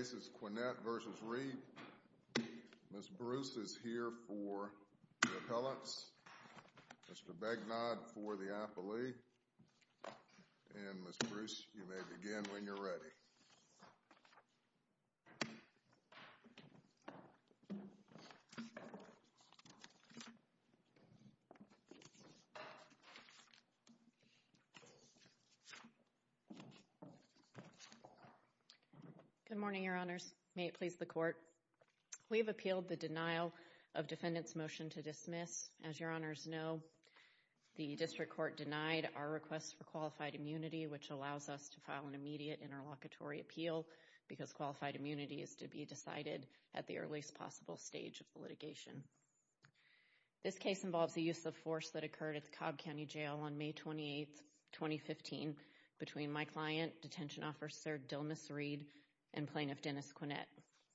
Mrs. Bruce is here for the appellants, Mr. Bagnod for the appellee, and Mrs. Bruce, you may begin when you're ready. Good morning, your honors. May it please the court. We've appealed the denial of defendant's motion to dismiss. As your honors know, the district court denied our request for qualified immunity. This case involves a use of force that occurred at the Cobb County Jail on May 28, 2015, between my client, Detention Officer Dilmus Reed and Plaintiff Dennis Quinette.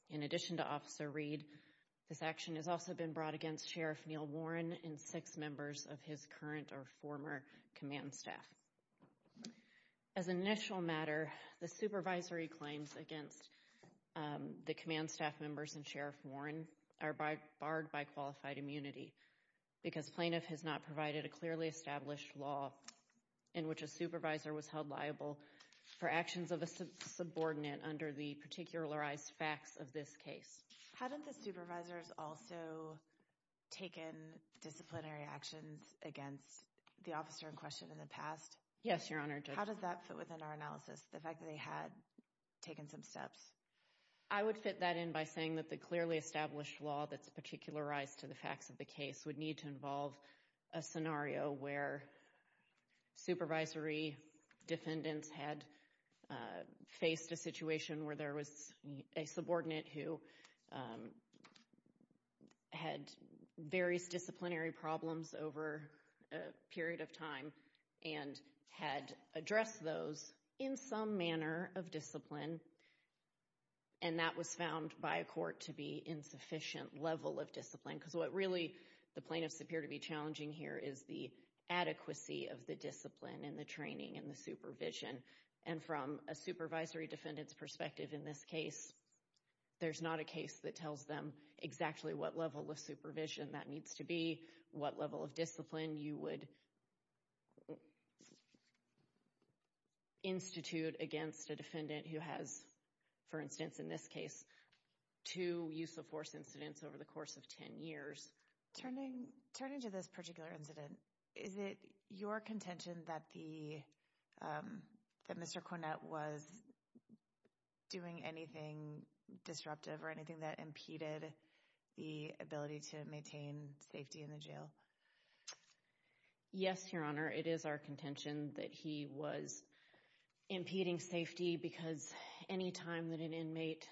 In addition to Officer Reed, this action has also been brought against Sheriff Neil Warren and six members of his current or former command staff. As an initial matter, the supervisory claims against the command staff members and Sheriff Warren are barred by qualified immunity because plaintiff has not provided a clearly established law in which a supervisor was held liable for actions of a subordinate under the particularized facts of this case. Hadn't the supervisors also taken disciplinary actions against the officer in question in the past? Yes, your honor. How does that fit within our analysis, the fact that they had taken some steps? I would fit that in by saying that the clearly established law that's particularized to the facts of the case would need to involve a scenario where supervisory defendants had faced a situation where there was a subordinate who had various disciplinary problems over a period of time and had addressed those in some manner of discipline, and that was found by a court to be insufficient level of discipline. Because what really the plaintiffs appear to be challenging here is the adequacy of the discipline and the training and the supervision. And from a supervisory defendant's perspective in this case, there's not a case that tells them exactly what level of supervision that needs to be, what level of discipline you would institute against a defendant who has, for instance in this case, two use of force incidents over the course of 10 years. Turning to this particular incident, is it your contention that the, that Mr. Cornett was doing anything disruptive or anything that impeded the ability to maintain safety in the jail? Yes, your honor. It is our contention that he was impeding safety because anytime that an inmate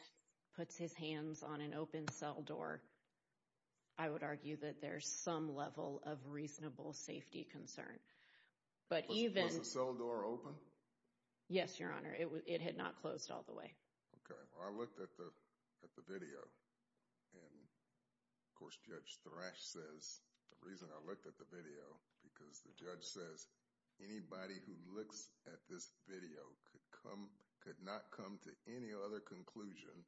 puts his hands on an open cell door, I would argue that there's some level of reasonable safety concern. But even... Was the cell door open? Yes, your honor. It had not closed all the way. Okay. Well, I looked at the video and of course Judge Thrash says, the reason I looked at the video because the judge says anybody who looks at this video could come, could not come to any other conclusion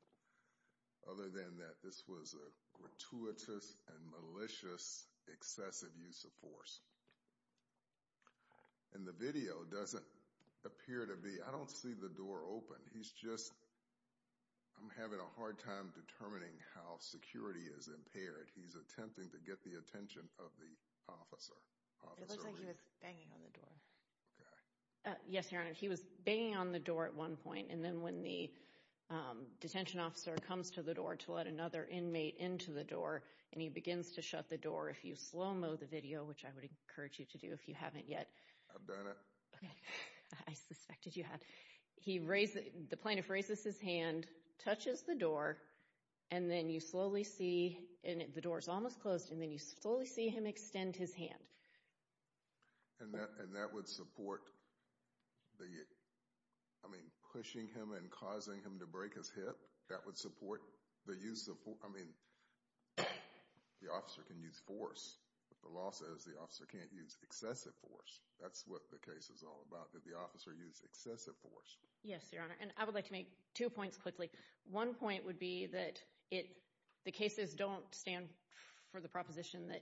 other than that this was a gratuitous and malicious excessive use of force. And the video doesn't appear to be, I don't see the door open. He's just, I'm having a hard time determining how security is impaired. He's attempting to get the attention of the officer. It looks like he was banging on the door. Okay. Yes, your honor. He was banging on the door at one point and then when the detention officer comes to the door to let another inmate into the door and he begins to shut the door, if you slow-mo the video, which I would encourage you to do if you haven't yet. I've done it. I suspected you had. The plaintiff raises his hand, touches the door, and then you slowly see, and the door's almost closed, and then you slowly see him extend his hand. And that would support the, I mean, pushing him and causing him to break his hip? That would support the use of force? I mean, the officer can use force, but the law says the officer can't use excessive force. That's what the case is all about, that the officer used excessive force. Yes, your honor. And I would like to make two points quickly. One point would be that the cases don't stand for the proposition that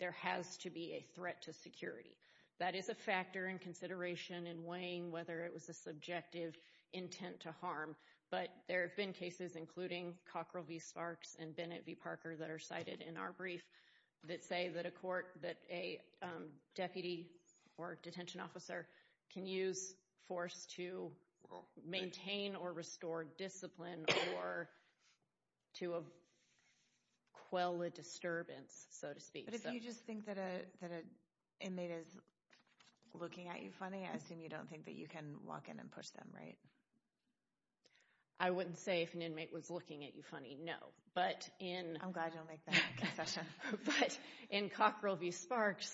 there has to be a threat to security. That is a factor in consideration in weighing whether it was a subjective intent to harm, but there have been cases, including Cockrell v. Sparks and Bennett v. Parker, that are cited in our brief that say that a court, that a deputy or detention officer can use force to maintain or restore discipline or to quell a disturbance, so to speak. But if you just think that an inmate is looking at you funny, I assume you don't think that you can walk in and push them, right? I wouldn't say if an inmate was looking at you funny, no. I'm glad you don't make that concession. But in Cockrell v. Sparks,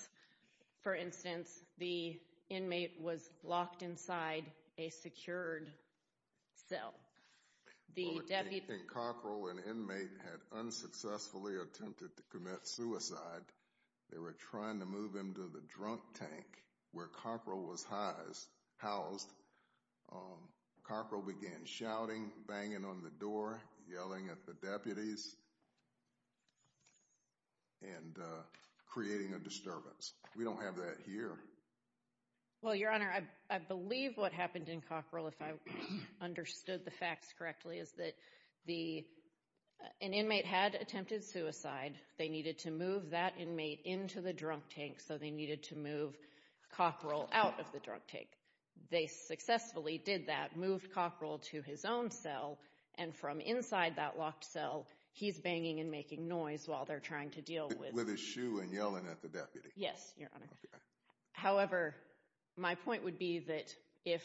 for instance, the inmate was locked inside a secured cell. The deputy... In Cockrell, an inmate had unsuccessfully attempted to commit suicide. They were trying to move him to the drunk tank where Cockrell was housed. Cockrell began shouting, banging on the door, yelling at the deputies and creating a disturbance. We don't have that here. Well, Your Honor, I believe what happened in Cockrell, if I understood the facts correctly, is that an inmate had attempted suicide. They needed to move that inmate into the drunk tank, so they needed to move Cockrell out of the drunk tank. They successfully did that, moved Cockrell to his own cell, and from inside that locked cell, he's banging and making noise while they're trying to deal with... With his shoe and yelling at the deputy. Yes, Your Honor. However, my point would be that if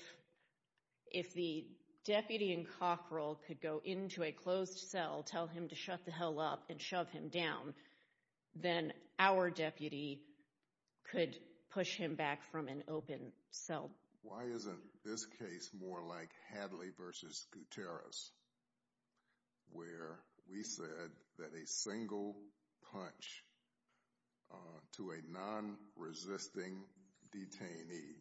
the deputy in Cockrell could go into a closed cell, tell him to shut the hell up and shove him down, then our deputy could push him back from an open cell. Why isn't this case more like Hadley v. Gutierrez, where we said that a single punch to a non-resisting detainee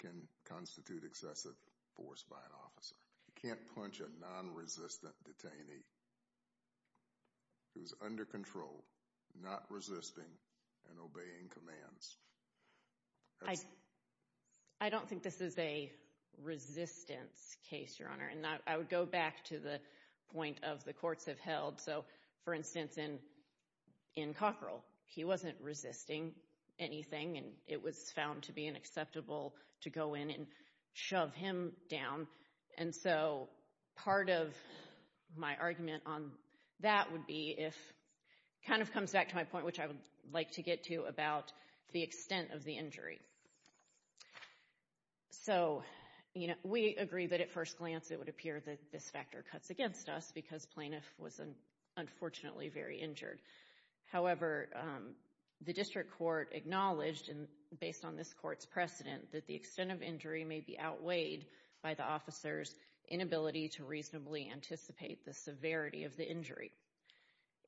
can constitute excessive force by an officer? You can't punch a non-resistant detainee who's under control, not resisting, and obeying commands. I don't think this is a resistance case, Your Honor, and I would go back to the point of the courts have held. So, for instance, in Cockrell, he wasn't resisting anything and it was found to be unacceptable to go in and shove him down. And so, part of my argument on that would be if... Kind of comes back to my point, which I would like to get to about the extent of the injury. So, you know, we agree that at first glance it would appear that this factor cuts against us because plaintiff was unfortunately very injured. However, the based on this court's precedent that the extent of injury may be outweighed by the officer's inability to reasonably anticipate the severity of the injury.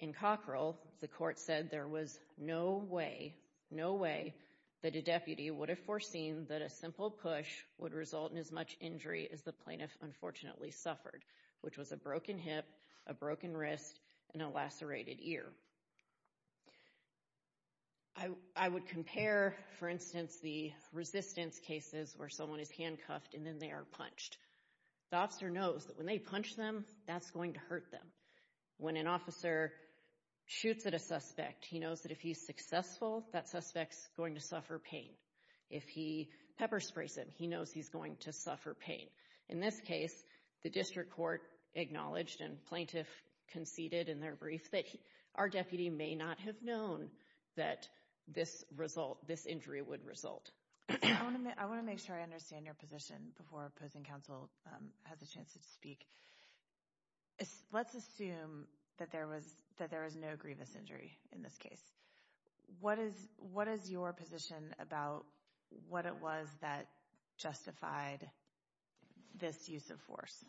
In Cockrell, the court said there was no way, no way that a deputy would have foreseen that a simple push would result in as much injury as the plaintiff unfortunately suffered, which was a broken hip, a broken For instance, the resistance cases where someone is handcuffed and then they are punched. The officer knows that when they punch them, that's going to hurt them. When an officer shoots at a suspect, he knows that if he's successful, that suspect's going to suffer pain. If he pepper sprays him, he knows he's going to suffer pain. In this case, the district court acknowledged and plaintiff conceded in their brief that our deputy may not have known that this result, this injury would result. I want to make sure I understand your position before opposing counsel has a chance to speak. Let's assume that there was that there is no grievous injury in this case. What is what is your position about what it was that justified this use of force?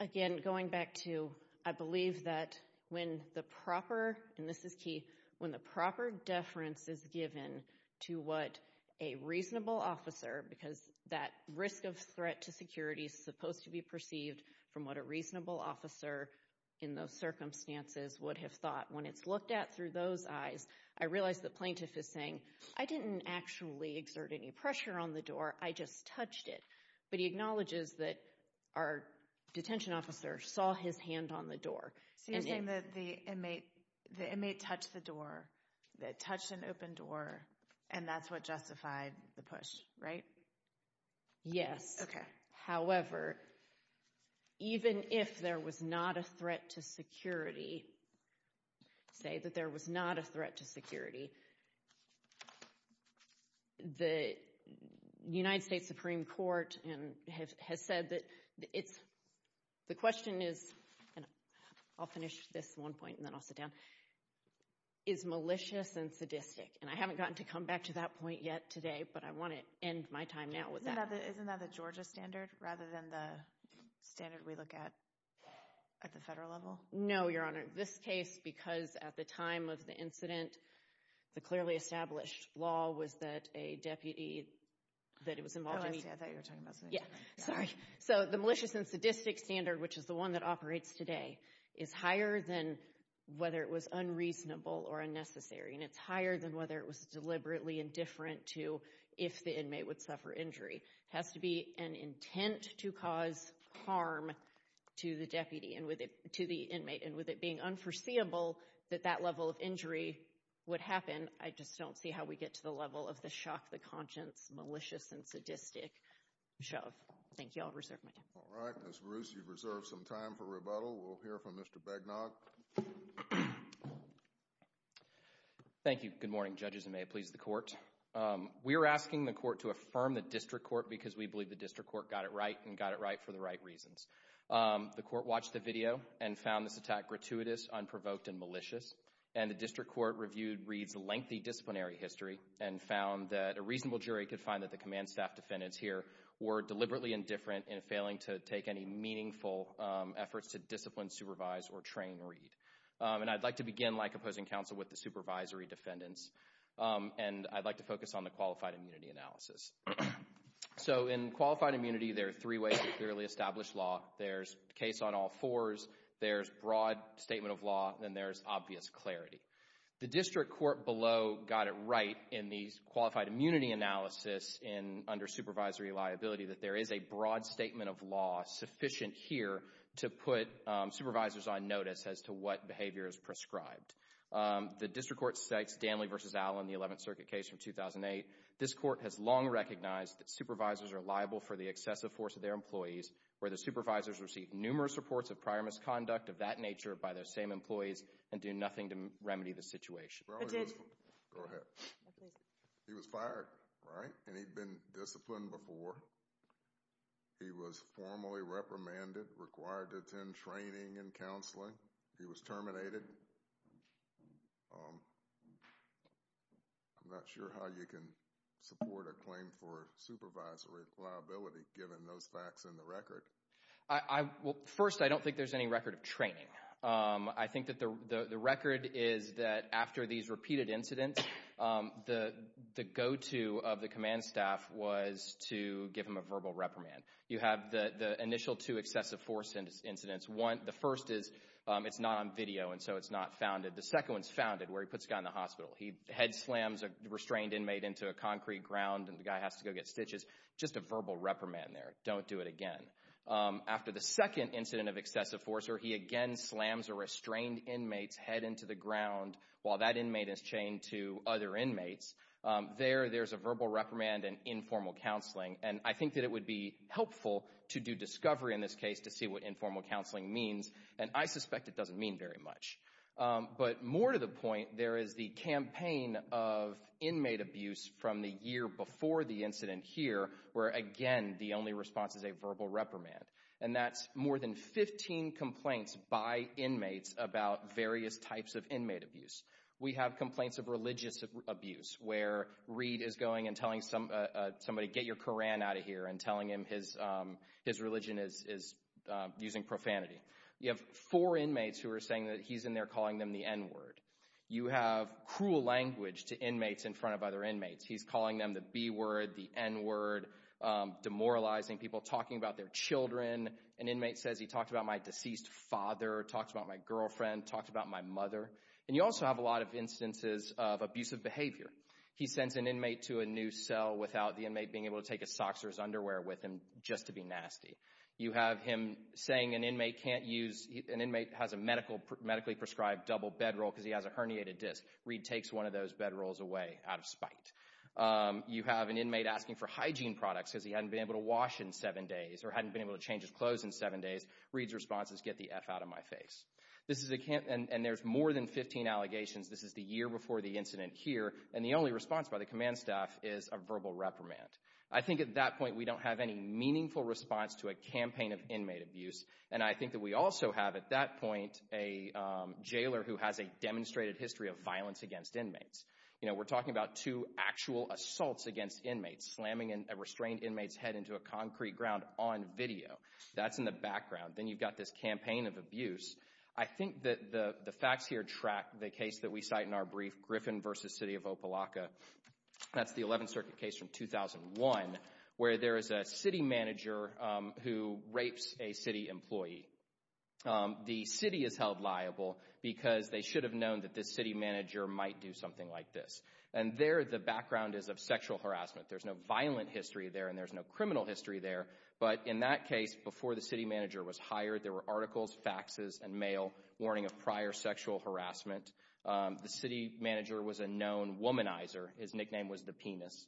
Again, going back to, I believe that when the proper and this is key, when the proper deference is given to what a reasonable officer, because that risk of threat to security is supposed to be perceived from what a reasonable officer in those circumstances would have thought when it's looked at through those eyes, I realized the plaintiff is saying, I didn't actually exert any pressure on the door. I just touched it. But he acknowledges that our detention officer saw his hand on the door. So you're saying that the inmate, the inmate touched the door, that touched an open door, and that's what justified the push, right? Yes. However, even if there was not a threat to security, say that there was not a threat to security, the United States Supreme Court has said that it's the question is, and I'll finish this one point and then I'll sit down, is malicious and sadistic. And I haven't gotten to come back to that point yet today, but I want to end my time now with that. Isn't that the Georgia standard rather than the standard we look at at the federal level? No, Your Honor. This case, because at the time of the incident, the clearly established law was that a deputy that was involved in the... Oh, I see. I thought you were talking about something different. Yeah. Sorry. So the malicious and sadistic standard, which is the one that operates today, is higher than whether it was unreasonable or unnecessary. And it's higher than whether it was deliberately indifferent to if the inmate would suffer injury. It has to be an inmate. And with it being unforeseeable that that level of injury would happen, I just don't see how we get to the level of the shock, the conscience, malicious and sadistic shove. Thank you. I'll reserve my time. All right. Ms. Bruce, you've reserved some time for rebuttal. We'll hear from Mr. Begnock. Thank you. Good morning, judges, and may it please the court. We're asking the court to affirm the district court because we believe the district court got it right and got it and found this attack gratuitous, unprovoked, and malicious. And the district court reviewed Reed's lengthy disciplinary history and found that a reasonable jury could find that the command staff defendants here were deliberately indifferent in failing to take any meaningful efforts to discipline, supervise, or train Reed. And I'd like to begin, like opposing counsel, with the supervisory defendants. And I'd like to focus on the qualified immunity analysis. So in qualified immunity, there are three ways to clearly establish law. There's case on all fours. There's broad statement of law. And there's obvious clarity. The district court below got it right in these qualified immunity analysis in under supervisory liability that there is a broad statement of law sufficient here to put supervisors on notice as to what behavior is prescribed. The district court cites Danley v. Allen, the 11th Circuit case from 2008. This court has long recognized that supervisors are liable for the excessive force of their employees where the supervisors receive numerous reports of prior misconduct of that nature by their same employees and do nothing to remedy the situation. Go ahead. He was fired, right? And he'd been disciplined before. He was formally reprimanded, required to attend training and counseling. He was terminated. I'm not sure how you can support a claim for supervisory liability, given those facts in the record. First, I don't think there's any record of training. I think that the record is that after these repeated incidents, the go-to of the command staff was to give him a verbal reprimand. You have the initial two excessive force incidents. The first is it's not on video, and so it's not founded. The second one's founded, where he puts a guy in the hospital. He slams a restrained inmate into a concrete ground, and the guy has to go get stitches. Just a verbal reprimand there. Don't do it again. After the second incident of excessive force, he again slams a restrained inmate's head into the ground while that inmate is chained to other inmates. There, there's a verbal reprimand and informal counseling, and I think that it would be helpful to do discovery in this case to see what informal counseling means, and I suspect it of inmate abuse from the year before the incident here, where again, the only response is a verbal reprimand, and that's more than 15 complaints by inmates about various types of inmate abuse. We have complaints of religious abuse, where Reed is going and telling somebody, get your Koran out of here, and telling him his religion is using profanity. You have four to inmates in front of other inmates. He's calling them the B word, the N word, demoralizing people, talking about their children. An inmate says, he talked about my deceased father, talked about my girlfriend, talked about my mother, and you also have a lot of instances of abusive behavior. He sends an inmate to a new cell without the inmate being able to take his socks or his underwear with him, just to be nasty. You have him saying an inmate can't use, an inmate has a medical, medically prescribed double bedroll because he has a herniated disc. Reed takes one of those bedrolls away out of spite. You have an inmate asking for hygiene products because he hadn't been able to wash in seven days, or hadn't been able to change his clothes in seven days. Reed's response is, get the F out of my face. This is, and there's more than 15 allegations. This is the year before the incident here, and the only response by the command staff is a verbal reprimand. I think at that point, we don't have any meaningful response to a campaign of inmate abuse, and I think that we also have, at that point, a jailer who has a demonstrated history of violence against inmates. You know, we're talking about two actual assaults against inmates, slamming a restrained inmate's head into a concrete ground on video. That's in the background. Then you've got this campaign of abuse. I think that the facts here track the case that we cite in our brief, Griffin v. City of Opa-locka. That's the 11th Circuit case from 2001, where there is a city employee. The city is held liable because they should have known that this city manager might do something like this, and there, the background is of sexual harassment. There's no violent history there, and there's no criminal history there, but in that case, before the city manager was hired, there were articles, faxes, and mail warning of prior sexual harassment. The city manager was a known womanizer. His nickname was The Penis,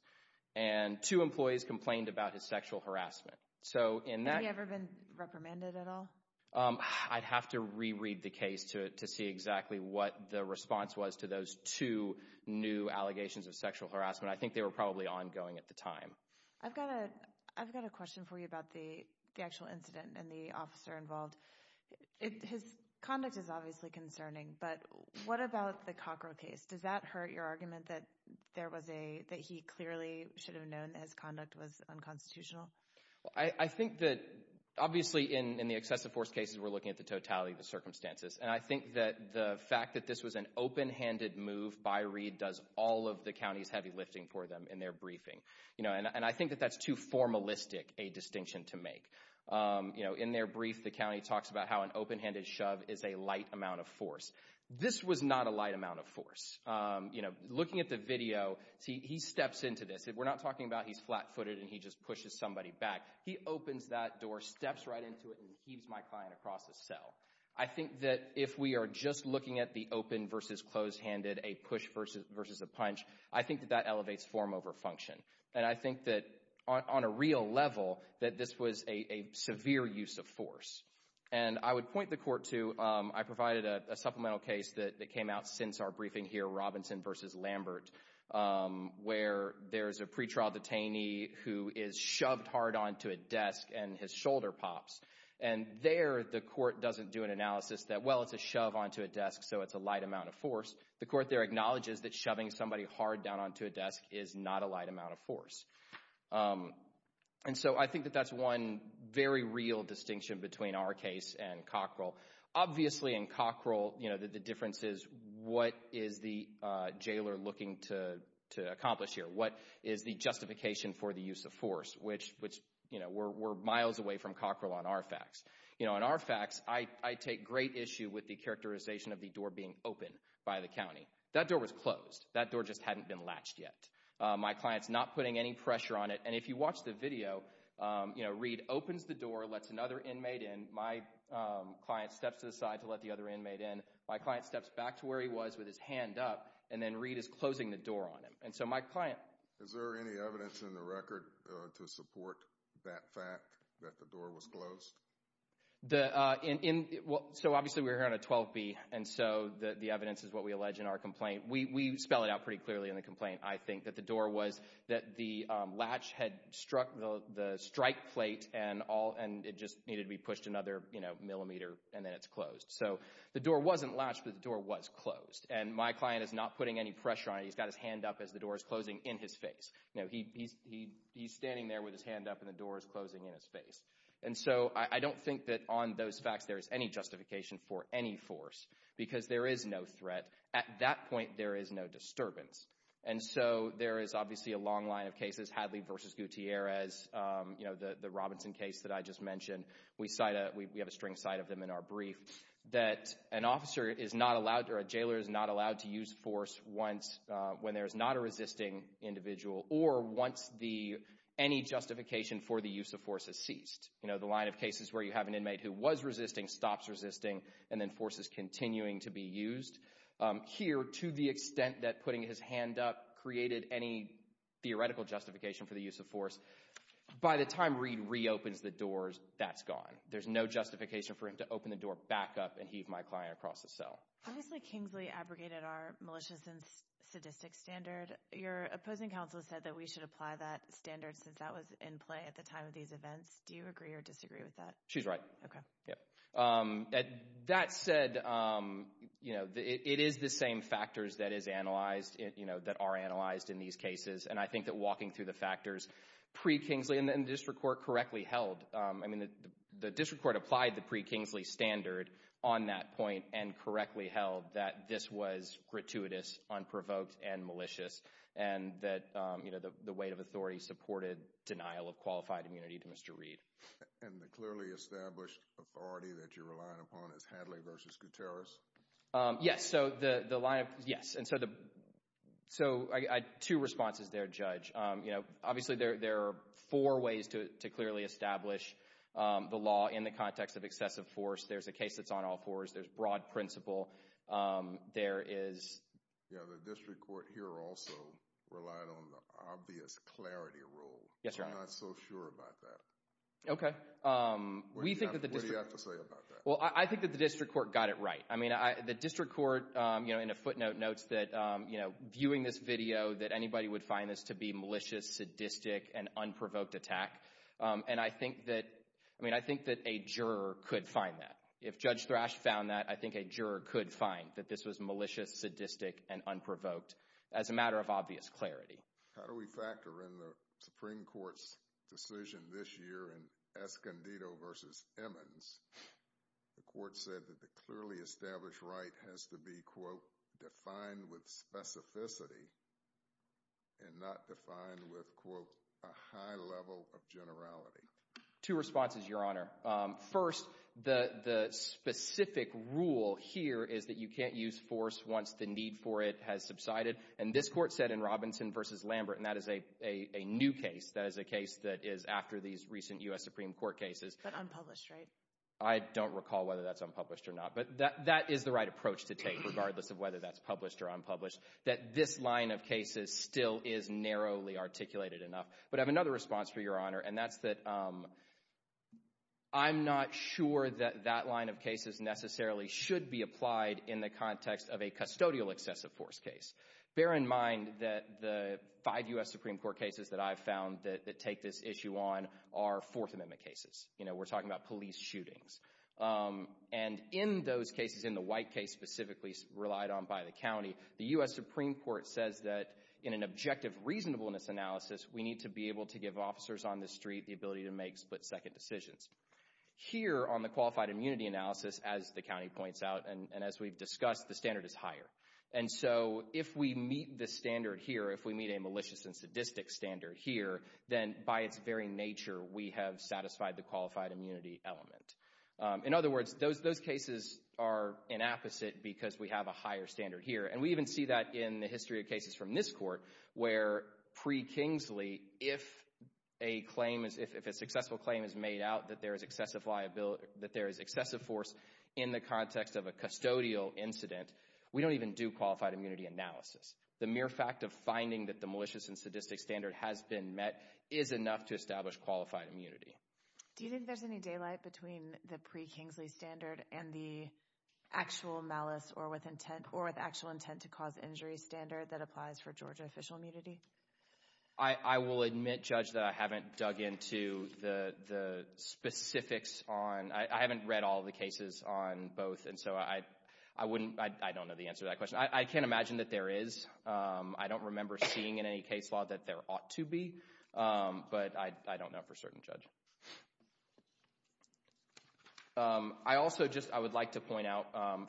and two employees complained about his sexual harassment. Had he ever been reprimanded at all? I'd have to reread the case to see exactly what the response was to those two new allegations of sexual harassment. I think they were probably ongoing at the time. I've got a question for you about the actual incident and the officer involved. His conduct is obviously concerning, but what about the Cockrell case? Does that hurt your argument that he clearly should have known that his conduct was unconstitutional? I think that, obviously, in the excessive force cases, we're looking at the totality of the circumstances, and I think that the fact that this was an open-handed move by Reed does all of the county's heavy lifting for them in their briefing, you know, and I think that that's too formalistic a distinction to make. You know, in their brief, the county talks about how an open-handed shove is a light amount of force. This was not a light amount of force. You know, looking at the video, he steps into this. We're not talking about he's flat-footed and he just pushes somebody back. He opens that door, steps right into it, and heaves my client across the cell. I think that if we are just looking at the open versus closed-handed, a push versus a punch, I think that that elevates form over function, and I think that on a real level that this was a severe use of force, and I would point the court to, I provided a supplemental case that came out since our Lambert, where there's a pretrial detainee who is shoved hard onto a desk and his shoulder pops, and there the court doesn't do an analysis that, well, it's a shove onto a desk, so it's a light amount of force. The court there acknowledges that shoving somebody hard down onto a desk is not a light amount of force, and so I think that that's one very real distinction between our case and Cockrell. Obviously, in Cockrell, you know, the difference is what is the jailer looking to accomplish here? What is the justification for the use of force, which, you know, we're miles away from Cockrell on our facts. You know, on our facts, I take great issue with the characterization of the door being open by the county. That door was closed. That door just hadn't been latched yet. My client's not putting any pressure on it, and if you watch the video, you know, Reed opens the door, lets another inmate in. My client steps to the side to let the other inmate in. My client steps back to where he was with his hand up, and then Reed is closing the door on him, and so my client... Is there any evidence in the record to support that fact, that the door was closed? So, obviously, we're here on a 12B, and so the evidence is what we allege in our complaint. We spell it out pretty clearly in the complaint, I think, that the door had struck the strike plate, and it just needed to be pushed another, you know, millimeter, and then it's closed. So, the door wasn't latched, but the door was closed, and my client is not putting any pressure on it. He's got his hand up as the door is closing in his face. You know, he's standing there with his hand up, and the door is closing in his face, and so I don't think that on those facts there is any justification for any force, because there is no threat. At that point, there is no force. So, for instance, Gutierrez, you know, the Robinson case that I just mentioned, we have a string cite of them in our brief, that an officer is not allowed, or a jailor is not allowed to use force when there is not a resisting individual, or once any justification for the use of force has ceased. You know, the line of cases where you have an inmate who was resisting, stops resisting, and then force is continuing to be used. Here, to the extent that putting his hand up created any theoretical justification for the use of force, by the time Reed reopens the doors, that's gone. There's no justification for him to open the door back up and heave my client across the cell. Obviously, Kingsley abrogated our malicious and sadistic standard. Your opposing counsel said that we should apply that standard, since that was in play at the time of these events. Do you agree or disagree with that? She's right. Okay. Yeah. That said, you know, it is the same factors that is analyzed, you know, that are analyzed in these cases, and I think that walking through the factors pre-Kingsley, and the District Court correctly held, I mean, the District Court applied the pre-Kingsley standard on that point, and correctly held that this was gratuitous, unprovoked, and malicious, and that, you know, the weight of authority supported denial of qualified immunity to Mr. Reed. And the clearly established authority that you're relying upon is Hadley v. Gutierrez? Yes, so the line of, yes, and so the, so I, two responses there, Judge. You know, obviously, there are four ways to clearly establish the law in the context of excessive force. There's a case that's on all fours. There's broad principle. There is, yeah, the District Court here also relied on the obvious clarity rule. Yes, Your Honor. I'm not so sure about that. Okay. What do you have to say about that? Well, I think that the District Court got it right. I mean, the District Court, you know, in a footnote notes that, you know, viewing this video, that anybody would find this to be malicious, sadistic, and unprovoked attack, and I think that, I mean, I think that a juror could find that. If Judge Thrash found that, I think a juror could find that this was malicious, sadistic, and unprovoked as a matter of obvious clarity. How do we factor in the Supreme Court's decision this year in Escondido v. Emmons? The Court said that the clearly established right has to be, quote, defined with specificity and not defined with, quote, a high level of generality. Two responses, Your Honor. First, the specific rule here is that you can't use force once the need for it has subsided, and this Court said in Robinson v. Lambert, and that is a new case, that is a case that is after these recent U.S. Supreme Court cases. But unpublished, right? I don't recall whether that's unpublished or not, but that is the right approach to take, regardless of whether that's published or unpublished, that this line of cases still is narrowly articulated enough. But I have another response for Your Honor, and that's that I'm not sure that that line of cases necessarily should be applied in the context of a custodial excessive force case. Bear in mind that the five U.S. Supreme Court cases that I've found that take this issue on are Fourth Amendment cases. You know, we're talking about police shootings. And in those cases, in the White case specifically relied on by the county, the U.S. Supreme Court says that in an objective reasonableness analysis, we need to be able to give officers on the street the ability to make split-second decisions. Here, on the qualified immunity analysis, as the county meets the standard here, if we meet a malicious and sadistic standard here, then by its very nature, we have satisfied the qualified immunity element. In other words, those cases are an opposite because we have a higher standard here. And we even see that in the history of cases from this court, where pre-Kingsley, if a claim is, if a successful claim is made out that there is excessive liability, that there is excessive force in the context of a custodial incident, we don't even do qualified immunity analysis. The mere fact of finding that the malicious and sadistic standard has been met is enough to establish qualified immunity. Do you think there's any daylight between the pre-Kingsley standard and the actual malice or with intent, or with actual intent to cause injury standard that applies for Georgia official immunity? I will admit, Judge, that I haven't dug into the specifics on, I haven't read all the cases on both, and so I wouldn't, I don't know the answer to that question. I can't imagine that there is. I don't remember seeing in any case law that there ought to be, but I don't know for certain, Judge. I also just, I would like to point out,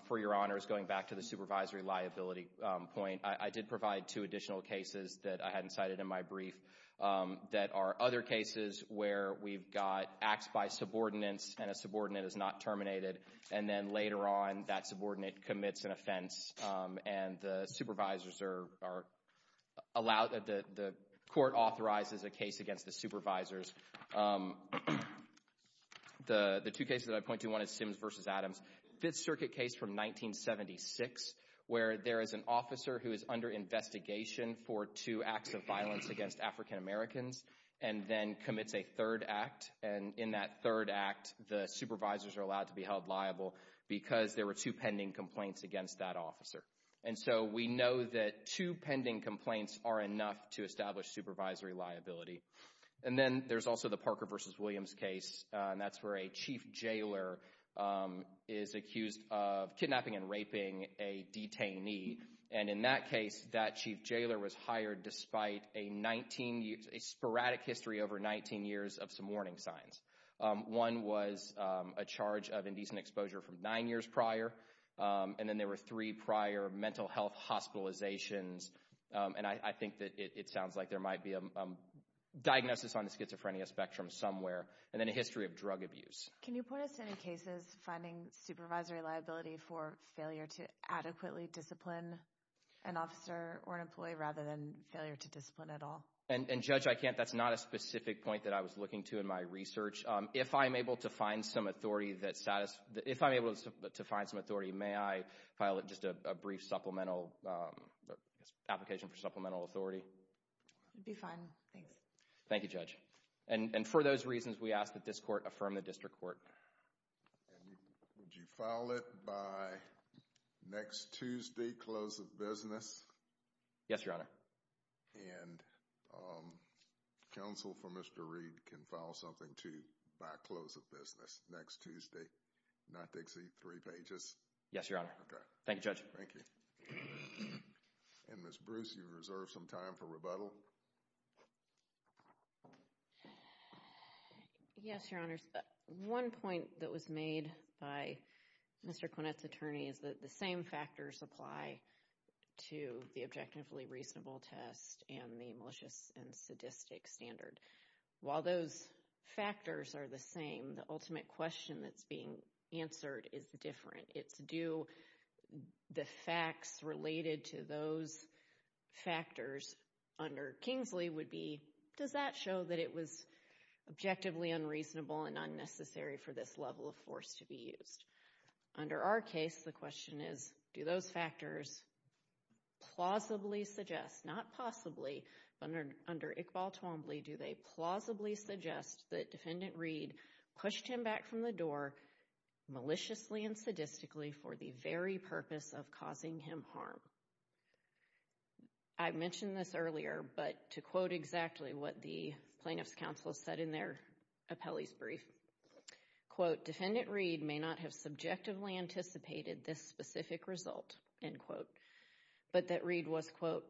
for your honors, going back to the supervisory liability point, I did provide two additional cases that I hadn't cited in my brief that are other cases where we've got acts by subordinates, and a subordinate is not terminated, and then later on that subordinate commits an offense, and the supervisors are allowed, the court authorizes a case against the supervisors. The two cases that I point to, one is Sims v. Adams, Fifth Circuit case from 1976, where there is an officer who is under investigation for two acts of violence against African Americans, and then commits a third act, and in that third act, the supervisors are allowed to be held liable because there were two pending complaints against that officer. And so we know that two pending complaints are enough to establish supervisory liability. And then there's also the Parker v. Williams case, and that's where a chief jailer is accused of a sporadic history over 19 years of some warning signs. One was a charge of indecent exposure from nine years prior, and then there were three prior mental health hospitalizations, and I think that it sounds like there might be a diagnosis on the schizophrenia spectrum somewhere, and then a history of drug abuse. Can you point us to any cases finding supervisory liability for failure to adequately discipline an officer or an employee, rather than failure to discipline at all? And Judge, I can't, that's not a specific point that I was looking to in my research. If I'm able to find some authority that satisfies, if I'm able to find some authority, may I file just a brief supplemental, application for supplemental authority? It'd be fine, thanks. Thank you, Judge. And for those reasons, we ask that this court affirm the district court. And would you file it by next Tuesday, close of business? Yes, Your Honor. And counsel for Mr. Reed can file something too by close of business next Tuesday, not Dixie, three pages? Yes, Your Honor. Okay. Thank you, Judge. Thank you. And Ms. Bruce, you reserve some time for rebuttal? Yes, Your Honors. One point that was made by Mr. Quinnett's attorney is that the same factors apply to the objectively reasonable test and the malicious and sadistic standard. While those factors are the same, the ultimate question that's being answered is different. It's do the facts related to those factors under Kingsley would be, does that show that it was objectively unreasonable and unnecessary for this level of force to be used? Under our case, the question is, do those factors plausibly suggest, not possibly, but under Iqbal Twombly, do they plausibly suggest that for the very purpose of causing him harm? I mentioned this earlier, but to quote exactly what the plaintiff's counsel said in their appellee's brief, quote, defendant Reed may not have subjectively anticipated this specific result, end quote, but that Reed was, quote,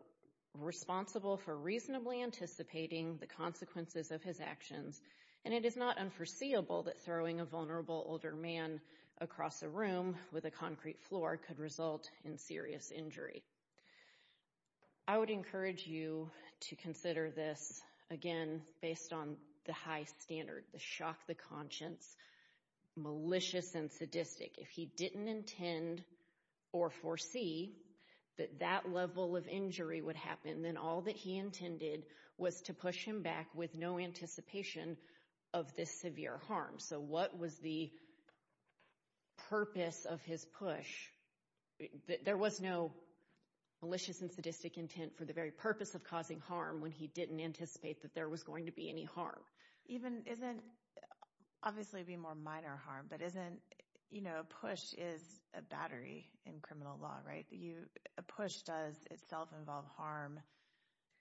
responsible for reasonably anticipating the consequences of his actions. And it is not unforeseeable that throwing a vulnerable older man across a room with a concrete floor could result in serious injury. I would encourage you to consider this, again, based on the high standard, the shock, the conscience, malicious and sadistic. If he didn't intend or foresee that that level of injury would happen, then all that he intended was to push him back with no anticipation of this severe harm. So what was the purpose of his push? There was no malicious and sadistic intent for the very purpose of causing harm when he didn't anticipate that there was going to be any harm. Even, isn't, obviously it would be more minor harm, but isn't, you know, a push is a battery in criminal law, right? A push does itself involve harm,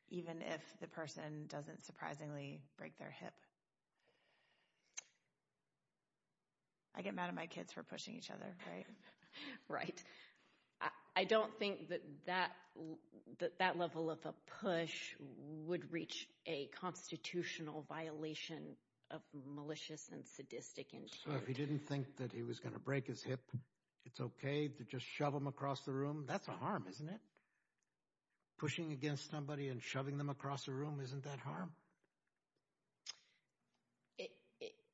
even if the person doesn't surprisingly break their hip. I get mad at my kids for pushing each other, right? Right. I don't think that that level of a push would reach a constitutional violation of malicious and sadistic intent. So if he didn't think that he was going to break his hip, it's okay to just shove him across the room? That's a harm, isn't it? Pushing against somebody and shoving them across the room, isn't that harm?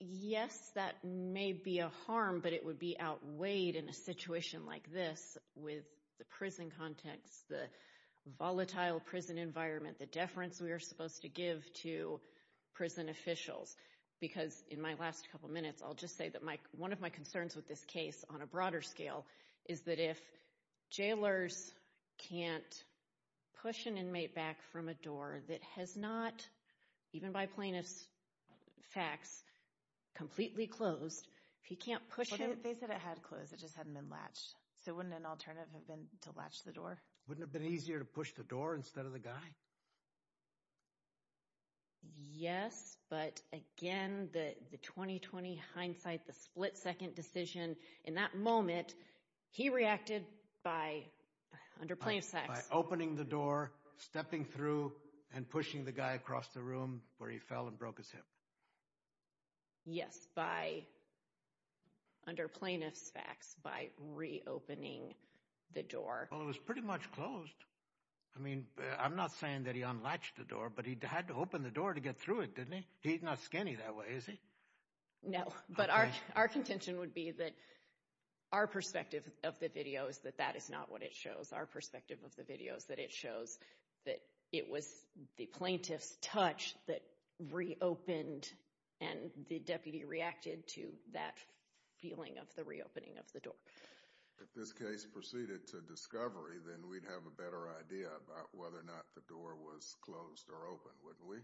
Yes, that may be a harm, but it would be outweighed in a situation like this with the prison context, the volatile prison environment, the deference we are supposed to give to prison officials. Because in my last couple minutes, I'll just say that one of my concerns with this case on a broader scale is that if jailers can't push an inmate back from a door that has not, even by plaintiff's facts, completely closed, if he can't push him... They said it had closed, it just hadn't been latched. So wouldn't an alternative have been to latch the door? Wouldn't it have been easier to push the door instead of the guy? Yes, but again, the 20-20 hindsight, the split-second decision, in that moment, he reacted by, under plaintiff's facts... By opening the door, stepping through, and pushing the guy across the room where he fell and broke his hip. Yes, by, under plaintiff's facts, by reopening the door. Well, it was pretty much closed. I mean, I'm not saying that he unlatched the door, but he had to open the door to get through it, didn't he? He's not skinny that way, is he? No, but our contention would be that our perspective of the video is that that is not what it shows. Our perspective of the video is that it shows that it was the plaintiff's touch that reopened and the deputy reacted to that feeling of the reopening of the door. If this case proceeded to discovery, then we'd have a better idea about whether or not the door was closed or open, wouldn't we?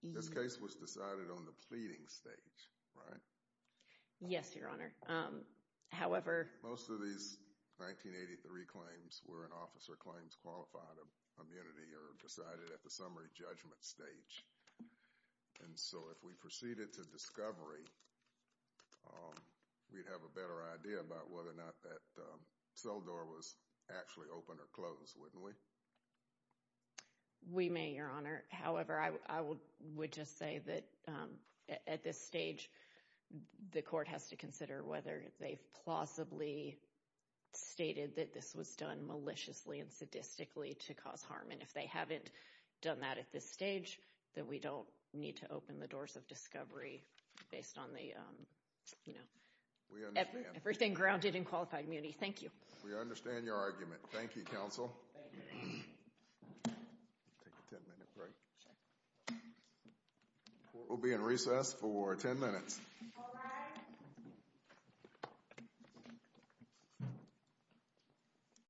This case was decided on the pleading stage, right? Yes, Your Honor. However... Most of these 1983 claims were in officer claims qualified immunity or decided at the We'd have a better idea about whether or not that cell door was actually open or closed, wouldn't we? We may, Your Honor. However, I would just say that at this stage, the court has to consider whether they've plausibly stated that this was done maliciously and sadistically to cause harm. And if they haven't done that at this stage, then we don't need to open the doors of discovery based on the, you know, everything grounded in qualified immunity. Thank you. We understand your argument. Thank you, counsel. We'll be in recess for 10 minutes.